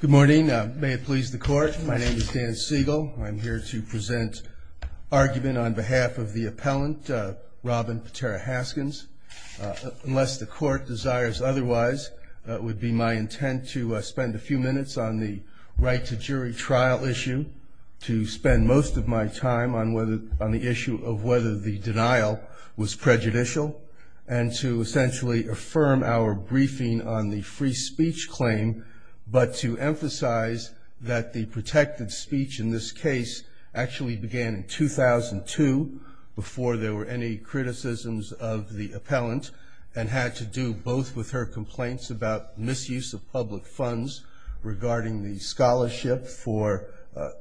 Good morning. May it please the court, my name is Dan Siegel. I'm here to present argument on behalf of the appellant, Robin Potera-Haskins. Unless the court desires otherwise, it would be my intent to spend a few minutes on the right to jury trial issue, to spend most of my time on the issue of whether the denial was prejudicial, and to essentially affirm our briefing on the free speech claim, but to emphasize that the protected speech in this case actually began in 2002, before there were any criticisms of the appellant, and had to do both with her complaints about misuse of public funds regarding the scholarship for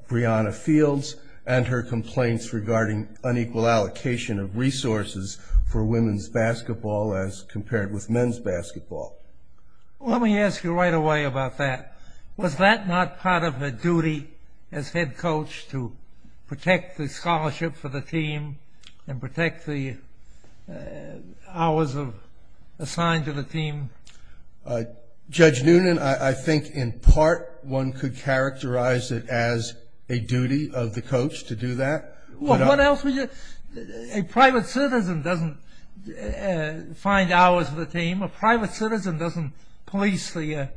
Breonna Fields, and her complaints regarding unequal allocation of resources for women's basketball as compared with men's basketball. Let me ask you right away about that. Was that not part of her duty as head coach to protect the scholarship for the team, and protect the hours assigned to the team? Judge Noonan, I think in part one could characterize it as a duty of the coach to do that. Well, what else would you... A private citizen doesn't find hours for the team. A private citizen doesn't police the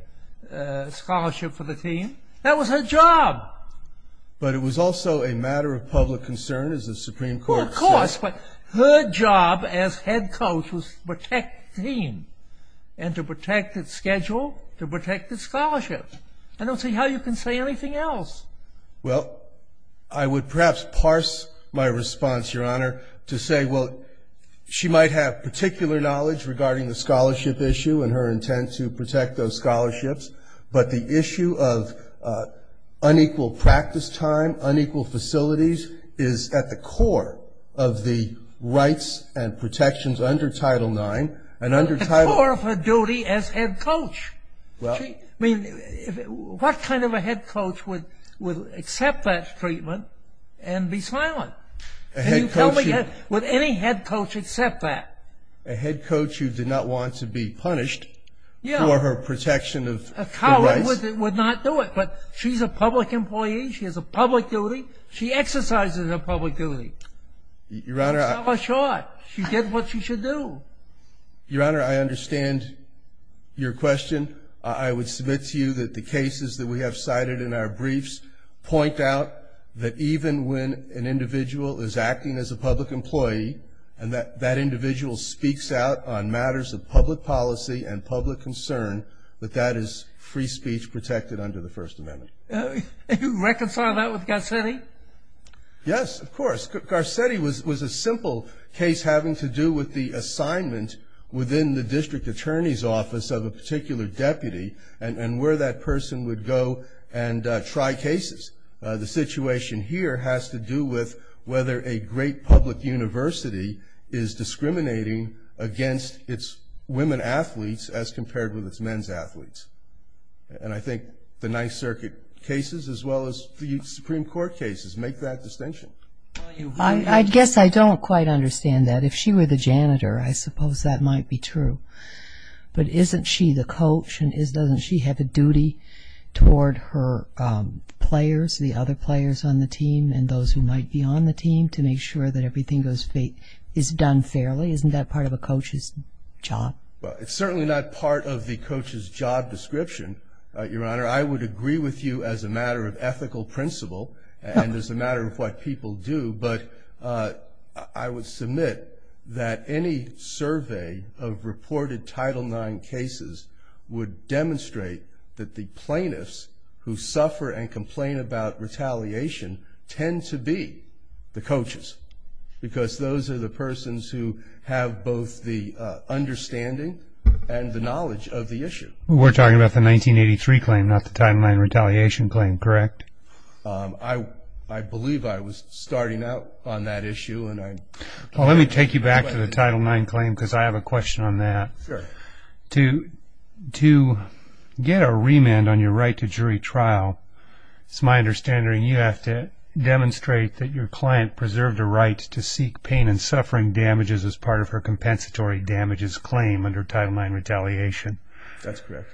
scholarship for the team. That was her job. But it was also a matter of public concern, as the Supreme Court said. Her job as head coach was to protect the team, and to protect its schedule, to protect the scholarship. I don't see how you can say anything else. Well, I would perhaps parse my response, Your Honor, to say, well, she might have particular knowledge regarding the scholarship issue and her intent to protect those scholarships, but the issue of unequal practice time, unequal facilities, is at the core of the rights and protections under Title IX, and under Title IX... At the core of her duty as head coach. Well... I mean, what kind of a head coach would accept that treatment and be silent? A head coach... And you tell me, would any head coach accept that? A head coach who did not want to be punished for her protection of the rights? A coward would not do it, but she's a public employee. She has a public duty. She exercises her public duty. Your Honor, I... She did what she should do. Your Honor, I understand your question. I would submit to you that the cases that we have cited in our briefs point out that even when an individual is acting as a public employee and that that individual speaks out on matters of public policy and public concern, that that is free speech protected under the First Amendment. You reconcile that with Garcetti? Yes, of course. Garcetti was a simple case having to do with the assignment within the district attorney's office of a particular deputy and where that person would go and try cases. The situation here has to do with whether a great public university is discriminating against its women athletes as compared with its men's athletes. And I think the Ninth Circuit cases as well as the Supreme Court cases make that distinction. I guess I don't quite understand that. If she were the janitor, I suppose that might be true. But isn't she the coach and doesn't she have a duty toward her players, the other players on the team and those who might be on the team, to make sure that everything is done fairly? Isn't that part of a coach's job? It's certainly not part of the coach's job description, Your Honor. I would agree with you as a matter of ethical principle and as a matter of what people do, but I would submit that any survey of reported Title IX cases would demonstrate that the plaintiffs who suffer and complain about retaliation tend to be the coaches because those are the persons who have both the understanding and the knowledge of the issue. We're talking about the 1983 claim, not the Title IX retaliation claim, correct? I believe I was starting out on that issue. Well, let me take you back to the Title IX claim because I have a question on that. Sure. To get a remand on your right to jury trial, it's my understanding you have to demonstrate that your client preserved a right to seek pain and suffering damages as part of her compensatory damages claim under Title IX retaliation. That's correct.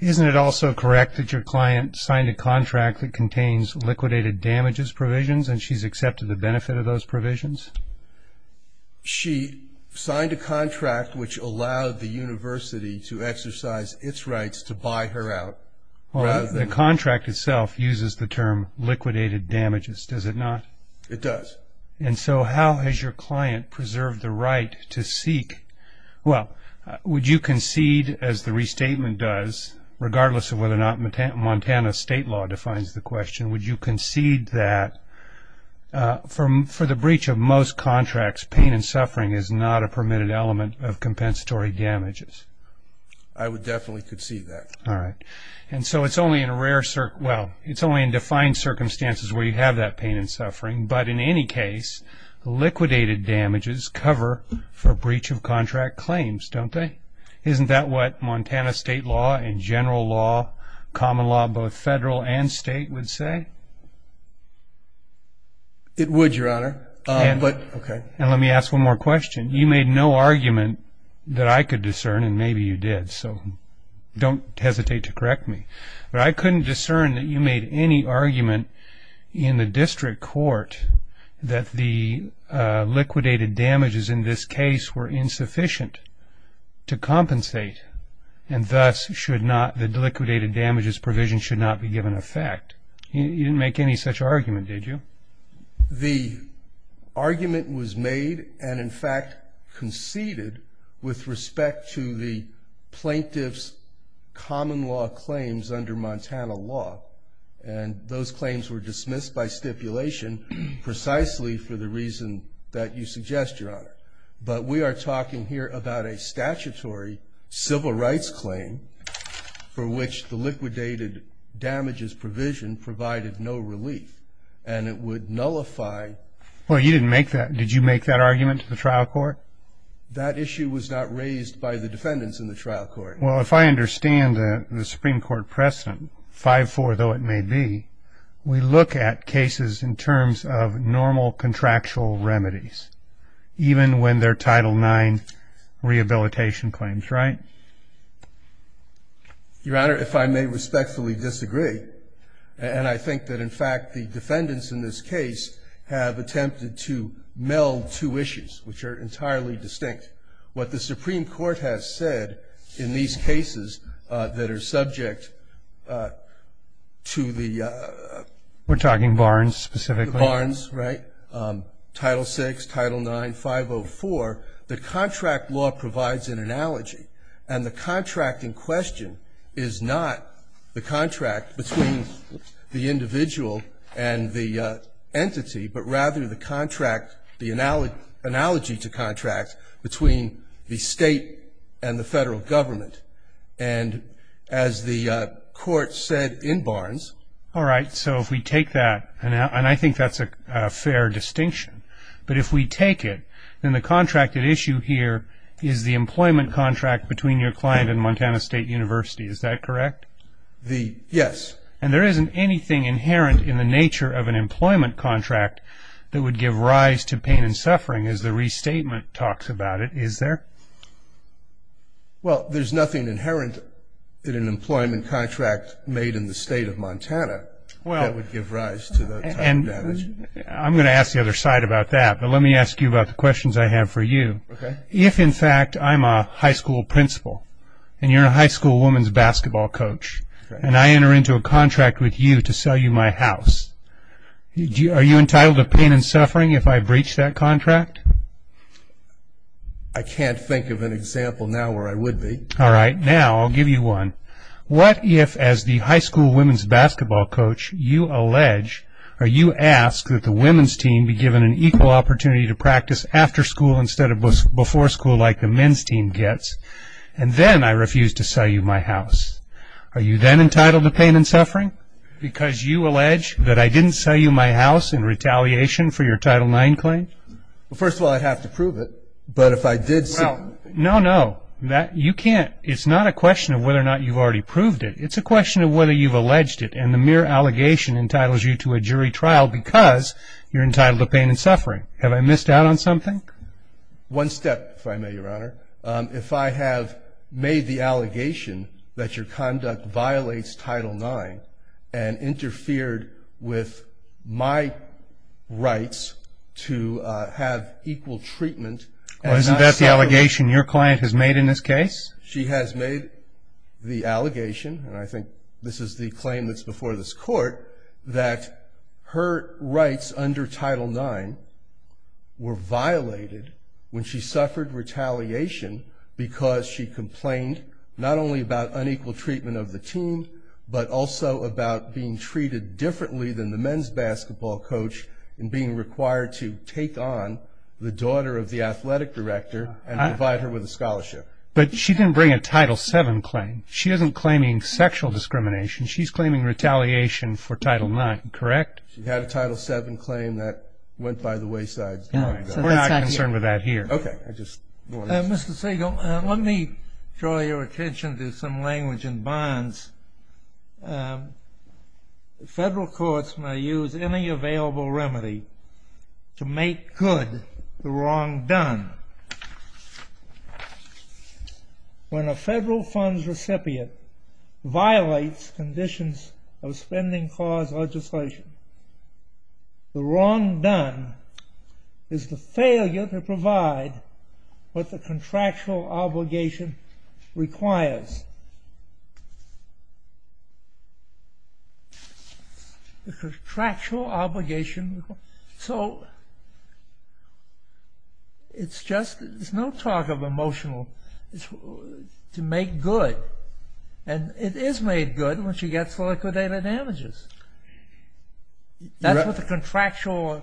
Isn't it also correct that your client signed a contract that contains liquidated damages provisions and she's accepted the benefit of those provisions? She signed a contract which allowed the university to exercise its rights to buy her out. Well, the contract itself uses the term liquidated damages, does it not? It does. Well, would you concede, as the restatement does, regardless of whether or not Montana state law defines the question, would you concede that for the breach of most contracts, pain and suffering is not a permitted element of compensatory damages? I would definitely concede that. All right. And so it's only in a rare, well, it's only in defined circumstances where you have that pain and suffering, but in any case, liquidated damages cover for breach of contract claims, don't they? Isn't that what Montana state law and general law, common law, both federal and state, would say? It would, Your Honor. And let me ask one more question. You made no argument that I could discern, and maybe you did, so don't hesitate to correct me, but I couldn't discern that you made any argument in the district court that the liquidated damages in this case were insufficient to compensate and thus the liquidated damages provision should not be given effect. You didn't make any such argument, did you? The argument was made and in fact conceded with respect to the plaintiff's common law claims under Montana law, and those claims were dismissed by stipulation precisely for the reason that you suggest, Your Honor. But we are talking here about a statutory civil rights claim for which the liquidated damages provision provided no relief, and it would nullify... Well, you didn't make that. Did you make that argument to the trial court? That issue was not raised by the defendants in the trial court. Well, if I understand the Supreme Court precedent, 5-4, though it may be, we look at cases in terms of normal contractual remedies, even when they're Title IX rehabilitation claims, right? Your Honor, if I may respectfully disagree, and I think that in fact the defendants in this case have attempted to meld two issues, which are entirely distinct. What the Supreme Court has said in these cases that are subject to the... We're talking Barnes specifically. Barnes, right? Title VI, Title IX, 504. The contract law provides an analogy, and the contract in question is not the contract between the individual and the entity, but rather the contract, the analogy to contract between the state and the federal government. And as the Court said in Barnes... All right. So if we take that, and I think that's a fair distinction, but if we take it, then the contracted issue here is the employment contract between your client and Montana State University. Is that correct? Yes. And there isn't anything inherent in the nature of an employment contract that would give rise to pain and suffering as the restatement talks about it, is there? Well, there's nothing inherent in an employment contract made in the state of Montana that would give rise to that type of damage. I'm going to ask the other side about that, but let me ask you about the questions I have for you. Okay. If, in fact, I'm a high school principal and you're a high school women's basketball coach and I enter into a contract with you to sell you my house, are you entitled to pain and suffering if I breach that contract? I can't think of an example now where I would be. All right. Now I'll give you one. What if, as the high school women's basketball coach, you allege or you ask that the women's team be given an equal opportunity to practice after school instead of before school like the men's team gets, and then I refuse to sell you my house? Are you then entitled to pain and suffering because you allege that I didn't sell you my house in retaliation for your Title IX claim? Well, first of all, I'd have to prove it. But if I did sell it. No, no. You can't. It's not a question of whether or not you've already proved it. It's a question of whether you've alleged it, and the mere allegation entitles you to a jury trial because you're entitled to pain and suffering. Have I missed out on something? One step, if I may, Your Honor. If I have made the allegation that your conduct violates Title IX and interfered with my rights to have equal treatment. Well, isn't that the allegation? Your client has made in this case? She has made the allegation, and I think this is the claim that's before this court, that her rights under Title IX were violated when she suffered retaliation because she complained not only about unequal treatment of the team but also about being treated differently than the men's basketball coach in being required to take on the daughter of the athletic director and provide her with a scholarship. But she didn't bring a Title VII claim. She isn't claiming sexual discrimination. She's claiming retaliation for Title IX, correct? She had a Title VII claim that went by the wayside. We're not concerned with that here. Okay. Mr. Siegel, let me draw your attention to some language in Barnes. Federal courts may use any available remedy to make good the wrong done. When a federal funds recipient violates conditions of spending clause legislation, the wrong done is the failure to provide what the contractual obligation requires. Yes. The contractual obligation. So it's just there's no talk of emotional. To make good, and it is made good when she gets liquidated damages. That's what the contractual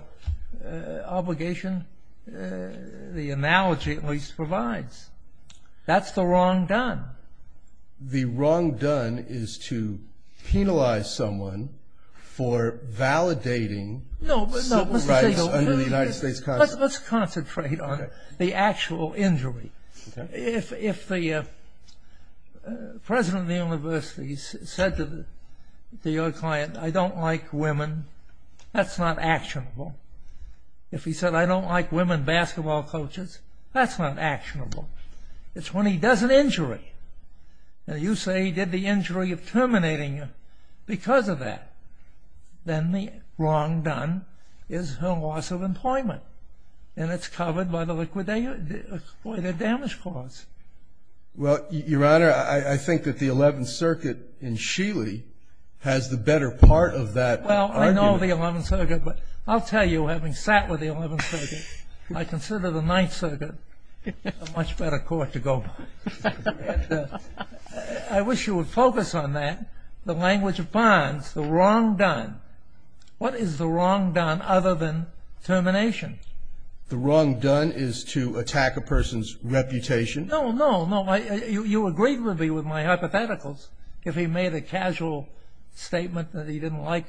obligation, the analogy at least, provides. That's the wrong done. The wrong done is to penalize someone for validating civil rights under the United States Constitution. Let's concentrate on the actual injury. If the president of the university said to your client, I don't like women, that's not actionable. If he said, I don't like women basketball coaches, that's not actionable. It's when he does an injury, and you say he did the injury of terminating you because of that. Then the wrong done is her loss of employment, and it's covered by the liquidated damage clause. Well, Your Honor, I think that the Eleventh Circuit in Sheely has the better part of that argument. I know the Eleventh Circuit, but I'll tell you, having sat with the Eleventh Circuit, I consider the Ninth Circuit a much better court to go by. I wish you would focus on that, the language of bonds, the wrong done. What is the wrong done other than termination? The wrong done is to attack a person's reputation. No, no, no. You agreed with me with my hypotheticals. If he made a casual statement that he didn't like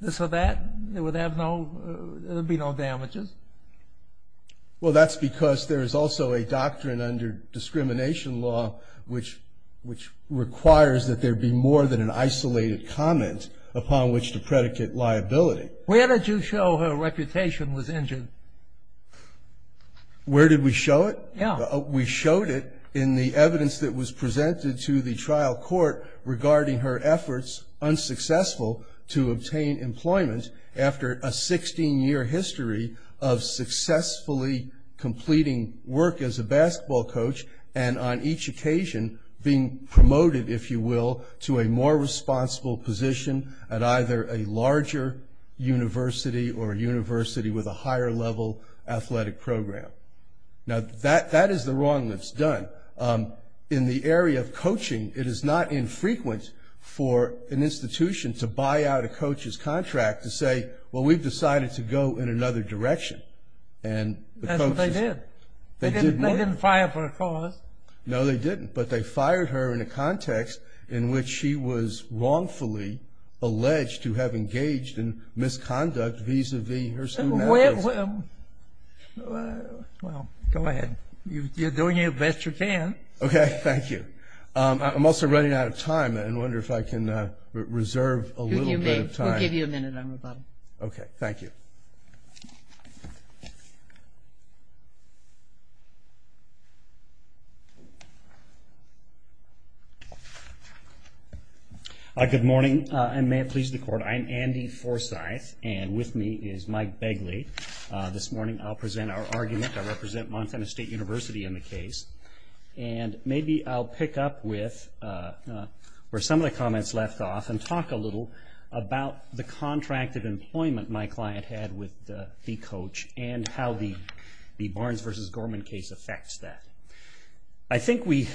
this or that, there would be no damages. Well, that's because there is also a doctrine under discrimination law which requires that there be more than an isolated comment upon which to predicate liability. Where did you show her reputation was injured? Where did we show it? Yeah. We showed it in the evidence that was presented to the trial court regarding her efforts, unsuccessful, to obtain employment after a 16-year history of successfully completing work as a basketball coach and on each occasion being promoted, if you will, to a more responsible position at either a larger university or a university with a higher level athletic program. Now, that is the wrong that's done. In the area of coaching, it is not infrequent for an institution to buy out a coach's contract to say, well, we've decided to go in another direction. That's what they did. They didn't fire her for a cause. No, they didn't, but they fired her in a context in which she was wrongfully alleged to have engaged in misconduct vis-à-vis her student athletes. Well, go ahead. You're doing your best you can. Okay, thank you. I'm also running out of time. I wonder if I can reserve a little bit of time. We'll give you a minute. Okay, thank you. Good morning, and may it please the Court. I'm Andy Forsyth, and with me is Mike Begley. This morning I'll present our argument. I represent Montana State University in the case, and maybe I'll pick up where some of the comments left off and talk a little about the contract of employment my client had with the coach and how the Barnes v. Gorman case affects that. I think we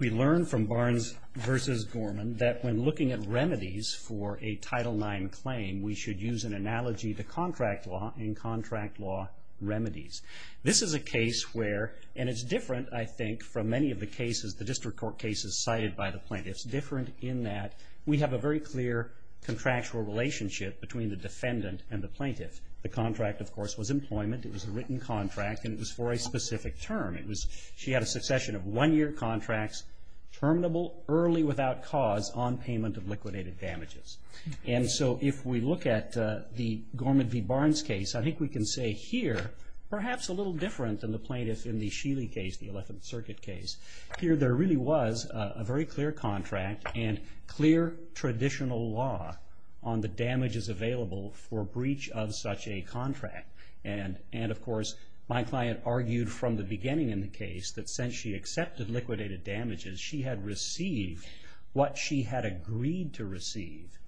learned from Barnes v. Gorman that when looking at remedies for a Title IX claim we should use an analogy to contract law and contract law remedies. This is a case where, and it's different, I think, from many of the cases, the district court cases cited by the plaintiffs, different in that we have a very clear contractual relationship between the defendant and the plaintiff. The contract, of course, was employment. It was a written contract, and it was for a specific term. It was she had a succession of one-year contracts, terminable early without cause, on payment of liquidated damages. And so if we look at the Gorman v. Barnes case, I think we can say here, perhaps a little different than the plaintiff in the Sheely case, the Eleventh Circuit case. Here there really was a very clear contract and clear traditional law on the damages available for breach of such a contract. And, of course, my client argued from the beginning in the case that since she accepted liquidated damages, she had received what she had agreed to receive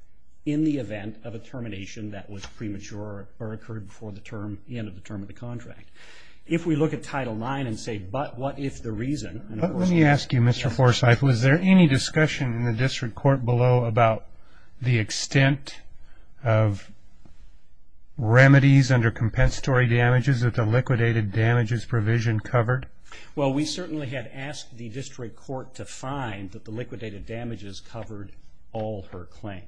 in the event of a termination that was premature or occurred before the end of the term of the contract. If we look at Title IX and say, but what if the reason? Let me ask you, Mr. Forsythe, was there any discussion in the district court below about the extent of remedies under compensatory damages that the liquidated damages provision covered? Well, we certainly had asked the district court to find that the liquidated damages covered all her claim.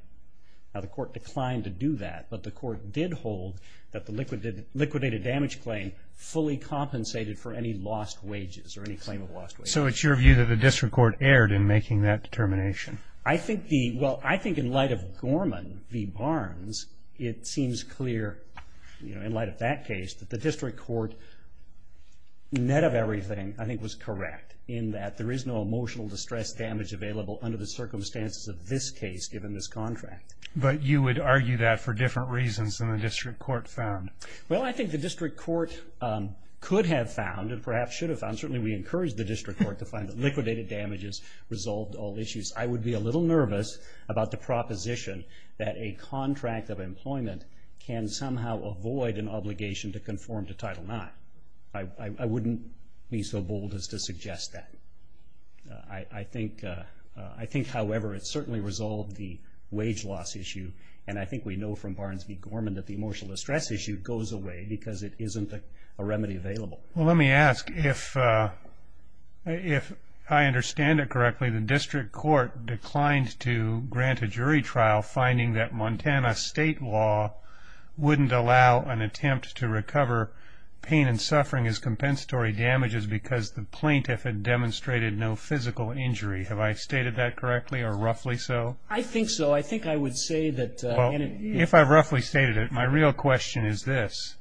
Now, the court declined to do that, but the court did hold that the liquidated damage claim fully compensated for any lost wages or any claim of lost wages. So it's your view that the district court erred in making that determination? Well, I think in light of Gorman v. Barnes, it seems clear in light of that case that the district court, net of everything, I think was correct in that there is no emotional distress damage available under the circumstances of this case given this contract. But you would argue that for different reasons than the district court found? Well, I think the district court could have found and perhaps should have found, certainly we encouraged the district court to find that liquidated damages resolved all issues. I would be a little nervous about the proposition that a contract of employment can somehow avoid an obligation to conform to Title IX. I wouldn't be so bold as to suggest that. I think, however, it certainly resolved the wage loss issue, and I think we know from Barnes v. Gorman that the emotional distress issue goes away because it isn't a remedy available. Well, let me ask, if I understand it correctly, the district court declined to grant a jury trial finding that Montana state law wouldn't allow an attempt to recover pain and suffering as compensatory damages because the plaintiff had demonstrated no physical injury. Have I stated that correctly or roughly so? I think so. I think I would say that... If I've roughly stated it, my real question is this.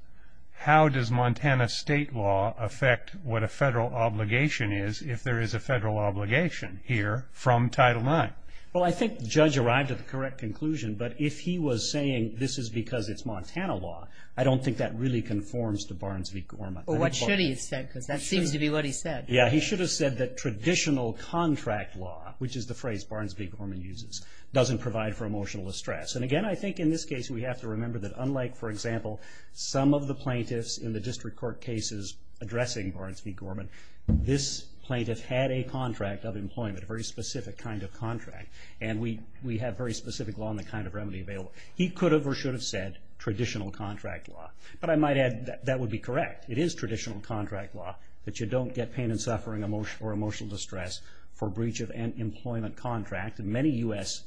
How does Montana state law affect what a federal obligation is if there is a federal obligation here from Title IX? Well, I think the judge arrived at the correct conclusion, but if he was saying this is because it's Montana law, I don't think that really conforms to Barnes v. Gorman. Well, what should he have said, because that seems to be what he said. Yeah, he should have said that traditional contract law, which is the phrase Barnes v. Gorman uses, doesn't provide for emotional distress. And again, I think in this case we have to remember that unlike, for example, some of the plaintiffs in the district court cases addressing Barnes v. Gorman, this plaintiff had a contract of employment, a very specific kind of contract, and we have very specific law on the kind of remedy available. He could have or should have said traditional contract law. But I might add that that would be correct. It is traditional contract law that you don't get pain and suffering or emotional distress for breach of an employment contract. In fact, many U.S.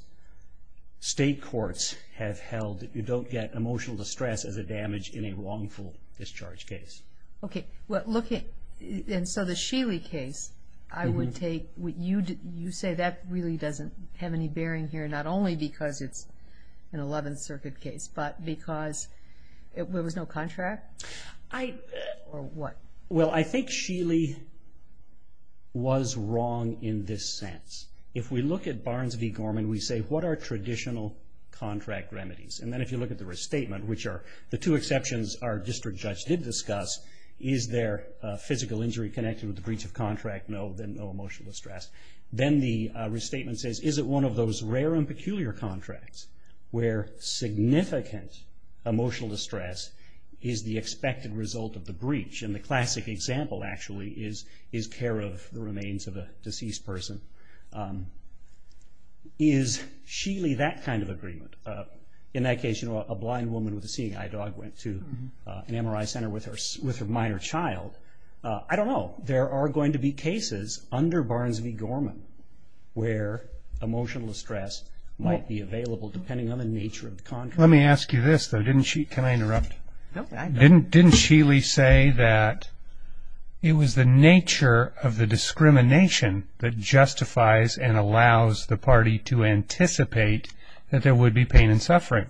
state courts have held that you don't get emotional distress as a damage in a wrongful discharge case. Okay. And so the Sheely case, I would take what you say, that really doesn't have any bearing here, not only because it's an 11th Circuit case, but because there was no contract or what? Well, I think Sheely was wrong in this sense. If we look at Barnes v. Gorman, we say, what are traditional contract remedies? And then if you look at the restatement, which are the two exceptions our district judge did discuss, is there a physical injury connected with the breach of contract? No. Then no emotional distress. Then the restatement says, is it one of those rare and peculiar contracts where significant emotional distress is the expected result of the breach? And the classic example, actually, is care of the remains of a deceased person. Is Sheely that kind of agreement? In that case, you know, a blind woman with a seeing eye dog went to an MRI center with her minor child. I don't know. There are going to be cases under Barnes v. Gorman where emotional distress might be available, depending on the nature of the contract. Let me ask you this, though. Can I interrupt? No, go ahead. Didn't Sheely say that it was the nature of the discrimination that justifies and allows the party to anticipate that there would be pain and suffering?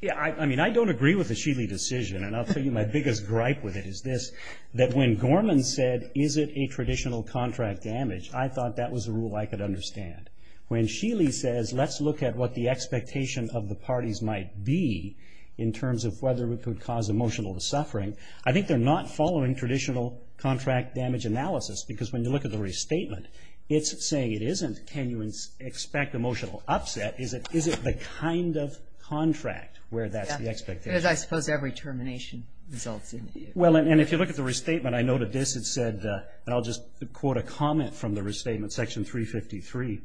Yeah, I mean, I don't agree with the Sheely decision, and I'll tell you my biggest gripe with it is this, that when Gorman said, is it a traditional contract damage, I thought that was a rule I could understand. When Sheely says, let's look at what the expectation of the parties might be in terms of whether it could cause emotional suffering, I think they're not following traditional contract damage analysis, because when you look at the restatement, it's saying it isn't. Can you expect emotional upset? Is it the kind of contract where that's the expectation? Yeah, because I suppose every termination results in it. Well, and if you look at the restatement, I noted this. It said, and I'll just quote a comment from the restatement, Section 353,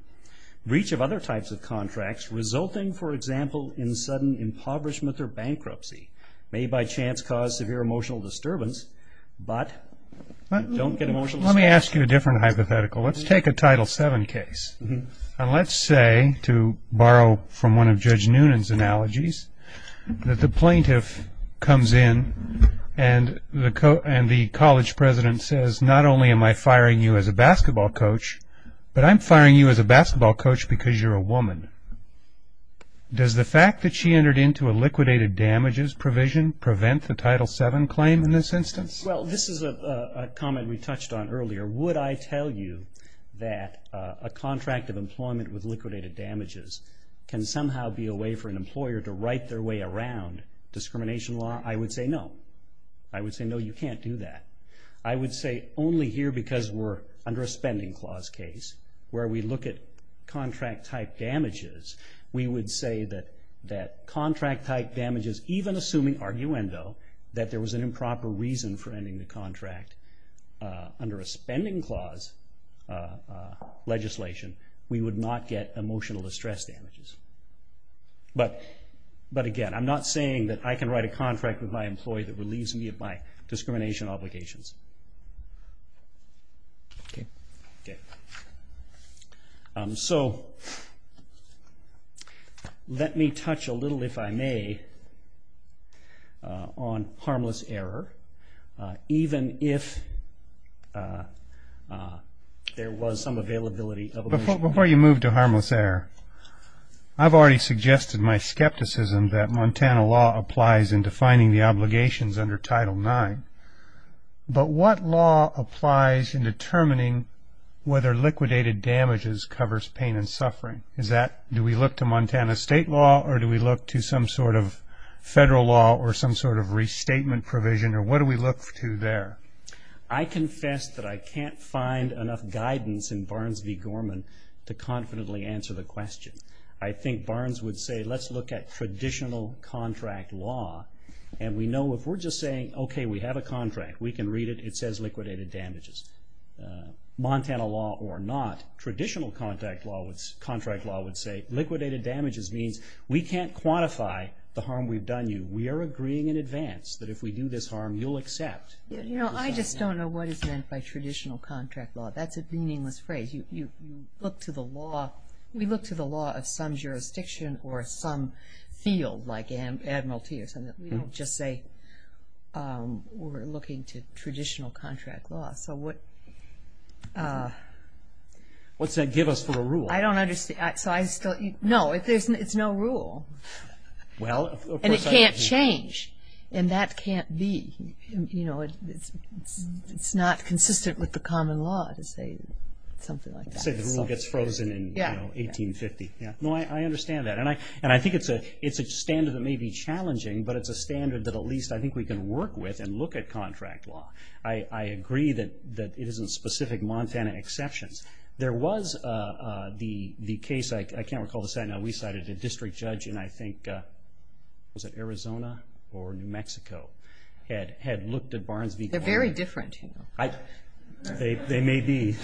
breach of other types of contracts resulting, for example, in sudden impoverishment or bankruptcy, may by chance cause severe emotional disturbance, but don't get emotional. Let me ask you a different hypothetical. Let's take a Title VII case, and let's say, to borrow from one of Judge Noonan's analogies, that the plaintiff comes in and the college president says, not only am I firing you as a basketball coach, but I'm firing you as a basketball coach because you're a woman. Does the fact that she entered into a liquidated damages provision prevent the Title VII claim in this instance? Well, this is a comment we touched on earlier. Would I tell you that a contract of employment with liquidated damages can somehow be a way for an employer to right their way around discrimination law? I would say no. I would say, no, you can't do that. I would say only here because we're under a spending clause case, where we look at contract-type damages, we would say that contract-type damages, even assuming arguendo, that there was an improper reason for ending the contract under a spending clause legislation, we would not get emotional distress damages. But, again, I'm not saying that I can write a contract with my employee that relieves me of my discrimination obligations. Okay. So let me touch a little, if I may, on harmless error, even if there was some availability. Before you move to harmless error, I've already suggested my skepticism that Montana law applies in defining the obligations under Title IX. But what law applies in determining whether liquidated damages covers pain and suffering? Do we look to Montana state law, or do we look to some sort of federal law or some sort of restatement provision, or what do we look to there? I confess that I can't find enough guidance in Barnes v. Gorman to confidently answer the question. I think Barnes would say, let's look at traditional contract law, and we know if we're just saying, okay, we have a contract, we can read it, it says liquidated damages. Montana law or not, traditional contract law would say, liquidated damages means we can't quantify the harm we've done you. We are agreeing in advance that if we do this harm, you'll accept. I just don't know what is meant by traditional contract law. That's a meaningless phrase. You look to the law. We look to the law of some jurisdiction or some field like admiralty or something. We don't just say we're looking to traditional contract law. So what does that give us for a rule? I don't understand. No, it's no rule. And it can't change, and that can't be. It's not consistent with the common law to say something like that. Say the rule gets frozen in 1850. No, I understand that, and I think it's a standard that may be challenging, but it's a standard that at least I think we can work with and look at contract law. I agree that it isn't specific Montana exceptions. There was the case, I can't recall the site now, we cited a district judge in, I think, was it Arizona or New Mexico, had looked at Barnes v. They're very different. They may be.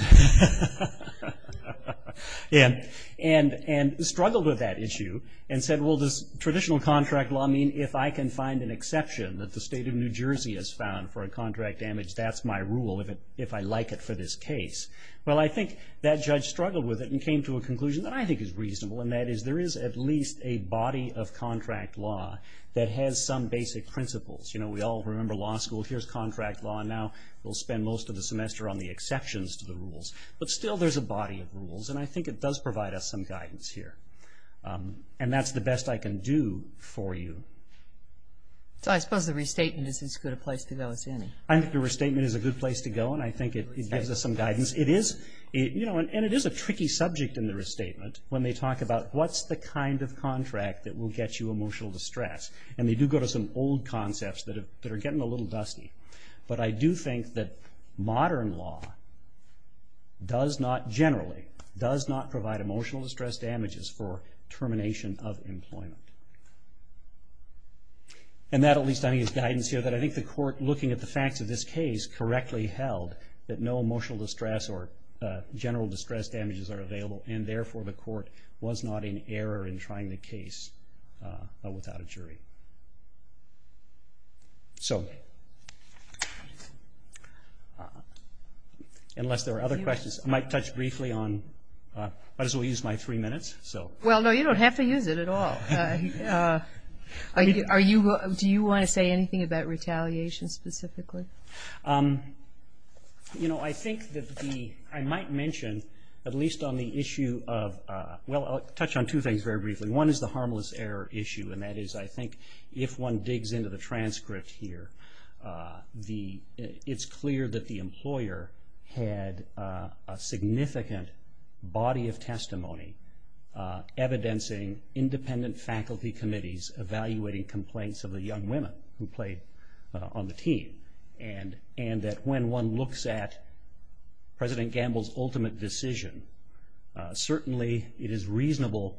And struggled with that issue and said, well, does traditional contract law mean if I can find an exception that the state of New Jersey has found for a contract damage, that's my rule, if I like it for this case. Well, I think that judge struggled with it and came to a conclusion that I think is reasonable, and that is there is at least a body of contract law that has some basic principles. You know, we all remember law school, here's contract law, and now we'll spend most of the semester on the exceptions to the rules. But still there's a body of rules, and I think it does provide us some guidance here. And that's the best I can do for you. So I suppose the restatement is as good a place to go as any. I think the restatement is a good place to go, and I think it gives us some guidance. It is a tricky subject in the restatement when they talk about what's the kind of contract that will get you emotional distress. And they do go to some old concepts that are getting a little dusty. But I do think that modern law does not generally, does not provide emotional distress damages for termination of employment. And that at least I think is guidance here that I think the court, looking at the facts of this case, correctly held that no emotional distress or general distress damages are available, and therefore the court was not in error in trying the case without a jury. So unless there are other questions, I might touch briefly on, might as well use my three minutes. Well, no, you don't have to use it at all. Do you want to say anything about retaliation specifically? You know, I think that the, I might mention at least on the issue of, well, I'll touch on two things very briefly. One is the harmless error issue, and that is I think if one digs into the transcript here, it's clear that the employer had a significant body of testimony evidencing independent faculty committees evaluating complaints of the young women who played on the team. And that when one looks at President Gamble's ultimate decision, certainly it is reasonable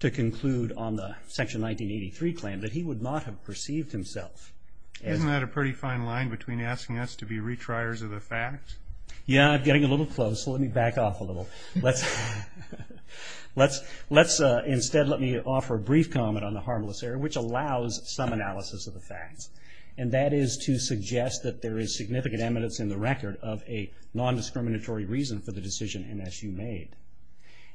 to conclude on the Section 1983 claim that he would not have perceived himself as. Isn't that a pretty fine line between asking us to be retriers of the facts? Yeah, I'm getting a little close, so let me back off a little. So let's instead let me offer a brief comment on the harmless error, which allows some analysis of the facts. And that is to suggest that there is significant evidence in the record of a nondiscriminatory reason for the decision NSU made.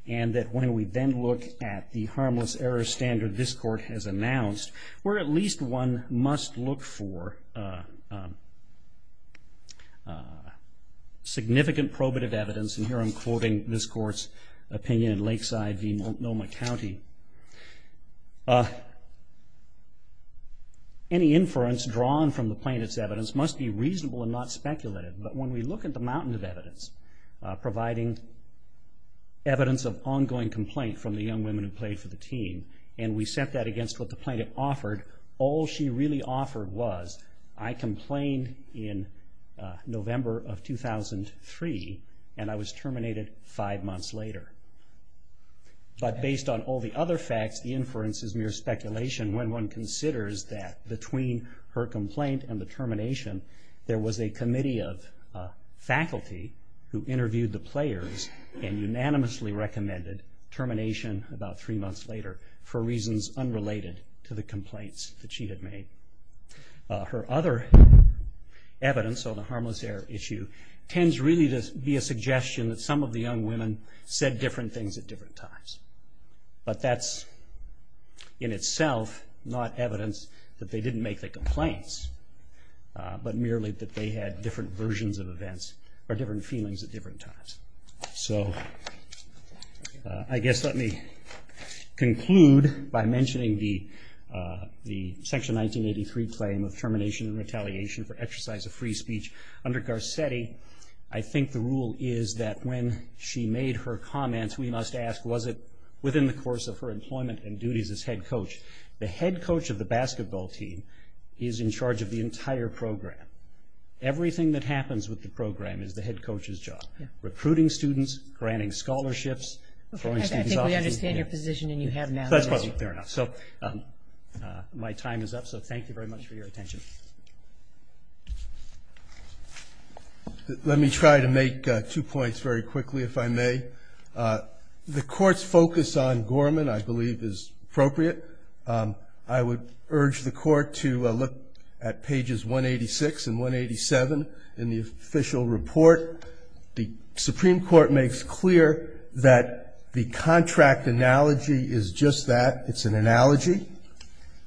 And that when we then look at the harmless error standard this Court has announced, where at least one must look for significant probative evidence, and here I'm quoting this Court's opinion in Lakeside v. Noma County, any inference drawn from the plaintiff's evidence must be reasonable and not speculative. But when we look at the mountain of evidence providing evidence of ongoing complaint from the young women who played for the team, and we set that against what the plaintiff offered, all she really offered was, I complained in November of 2003, and I was terminated five months later. But based on all the other facts, the inference is mere speculation when one considers that between her complaint and the termination, there was a committee of faculty who interviewed the players and unanimously recommended termination about three months later for reasons unrelated to the complaints that she had made. Her other evidence on the harmless error issue tends really to be a suggestion that some of the young women said different things at different times. But that's in itself not evidence that they didn't make the complaints, but merely that they had different versions of events or different feelings at different times. So I guess let me conclude by mentioning the Section 1983 claim of termination and retaliation for exercise of free speech. Under Garcetti, I think the rule is that when she made her comments, we must ask, was it within the course of her employment and duties as head coach? The head coach of the basketball team is in charge of the entire program. Everything that happens with the program is the head coach's job. Recruiting students, granting scholarships, throwing students off. I think we understand your position and you have now. Fair enough. So my time is up, so thank you very much for your attention. Let me try to make two points very quickly, if I may. The Court's focus on Gorman, I believe, is appropriate. I would urge the Court to look at pages 186 and 187 in the official report. The Supreme Court makes clear that the contract analogy is just that. It's an analogy.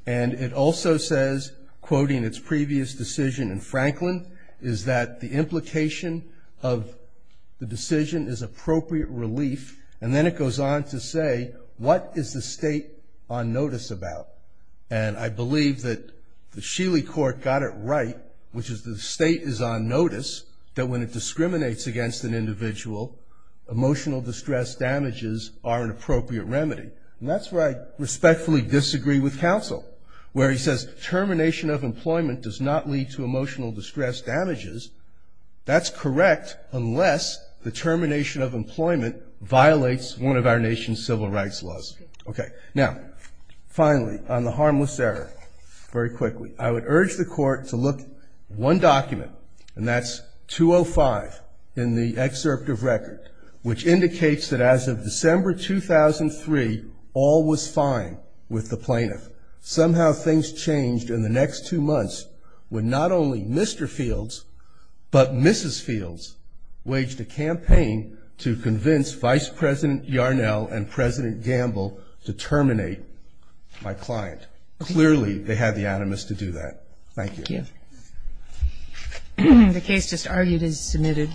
And it also says, quoting its previous decision in Franklin, is that the implication of the decision is appropriate relief. And then it goes on to say, what is the state on notice about? And I believe that the Sheely Court got it right, which is the state is on notice, that when it discriminates against an individual, emotional distress damages are an appropriate remedy. And that's where I respectfully disagree with counsel. Where he says termination of employment does not lead to emotional distress damages. That's correct unless the termination of employment violates one of our nation's civil rights laws. Okay. Now, finally, on the harmless error, very quickly. I would urge the Court to look at one document, and that's 205 in the excerpt of record, which indicates that as of December 2003, all was fine with the plaintiff. Somehow things changed in the next two months when not only Mr. Fields, but Mrs. Fields waged a campaign to convince Vice President Yarnell and President Gamble to terminate my client. Clearly, they had the animus to do that. Thank you. Thank you. The case just argued is submitted.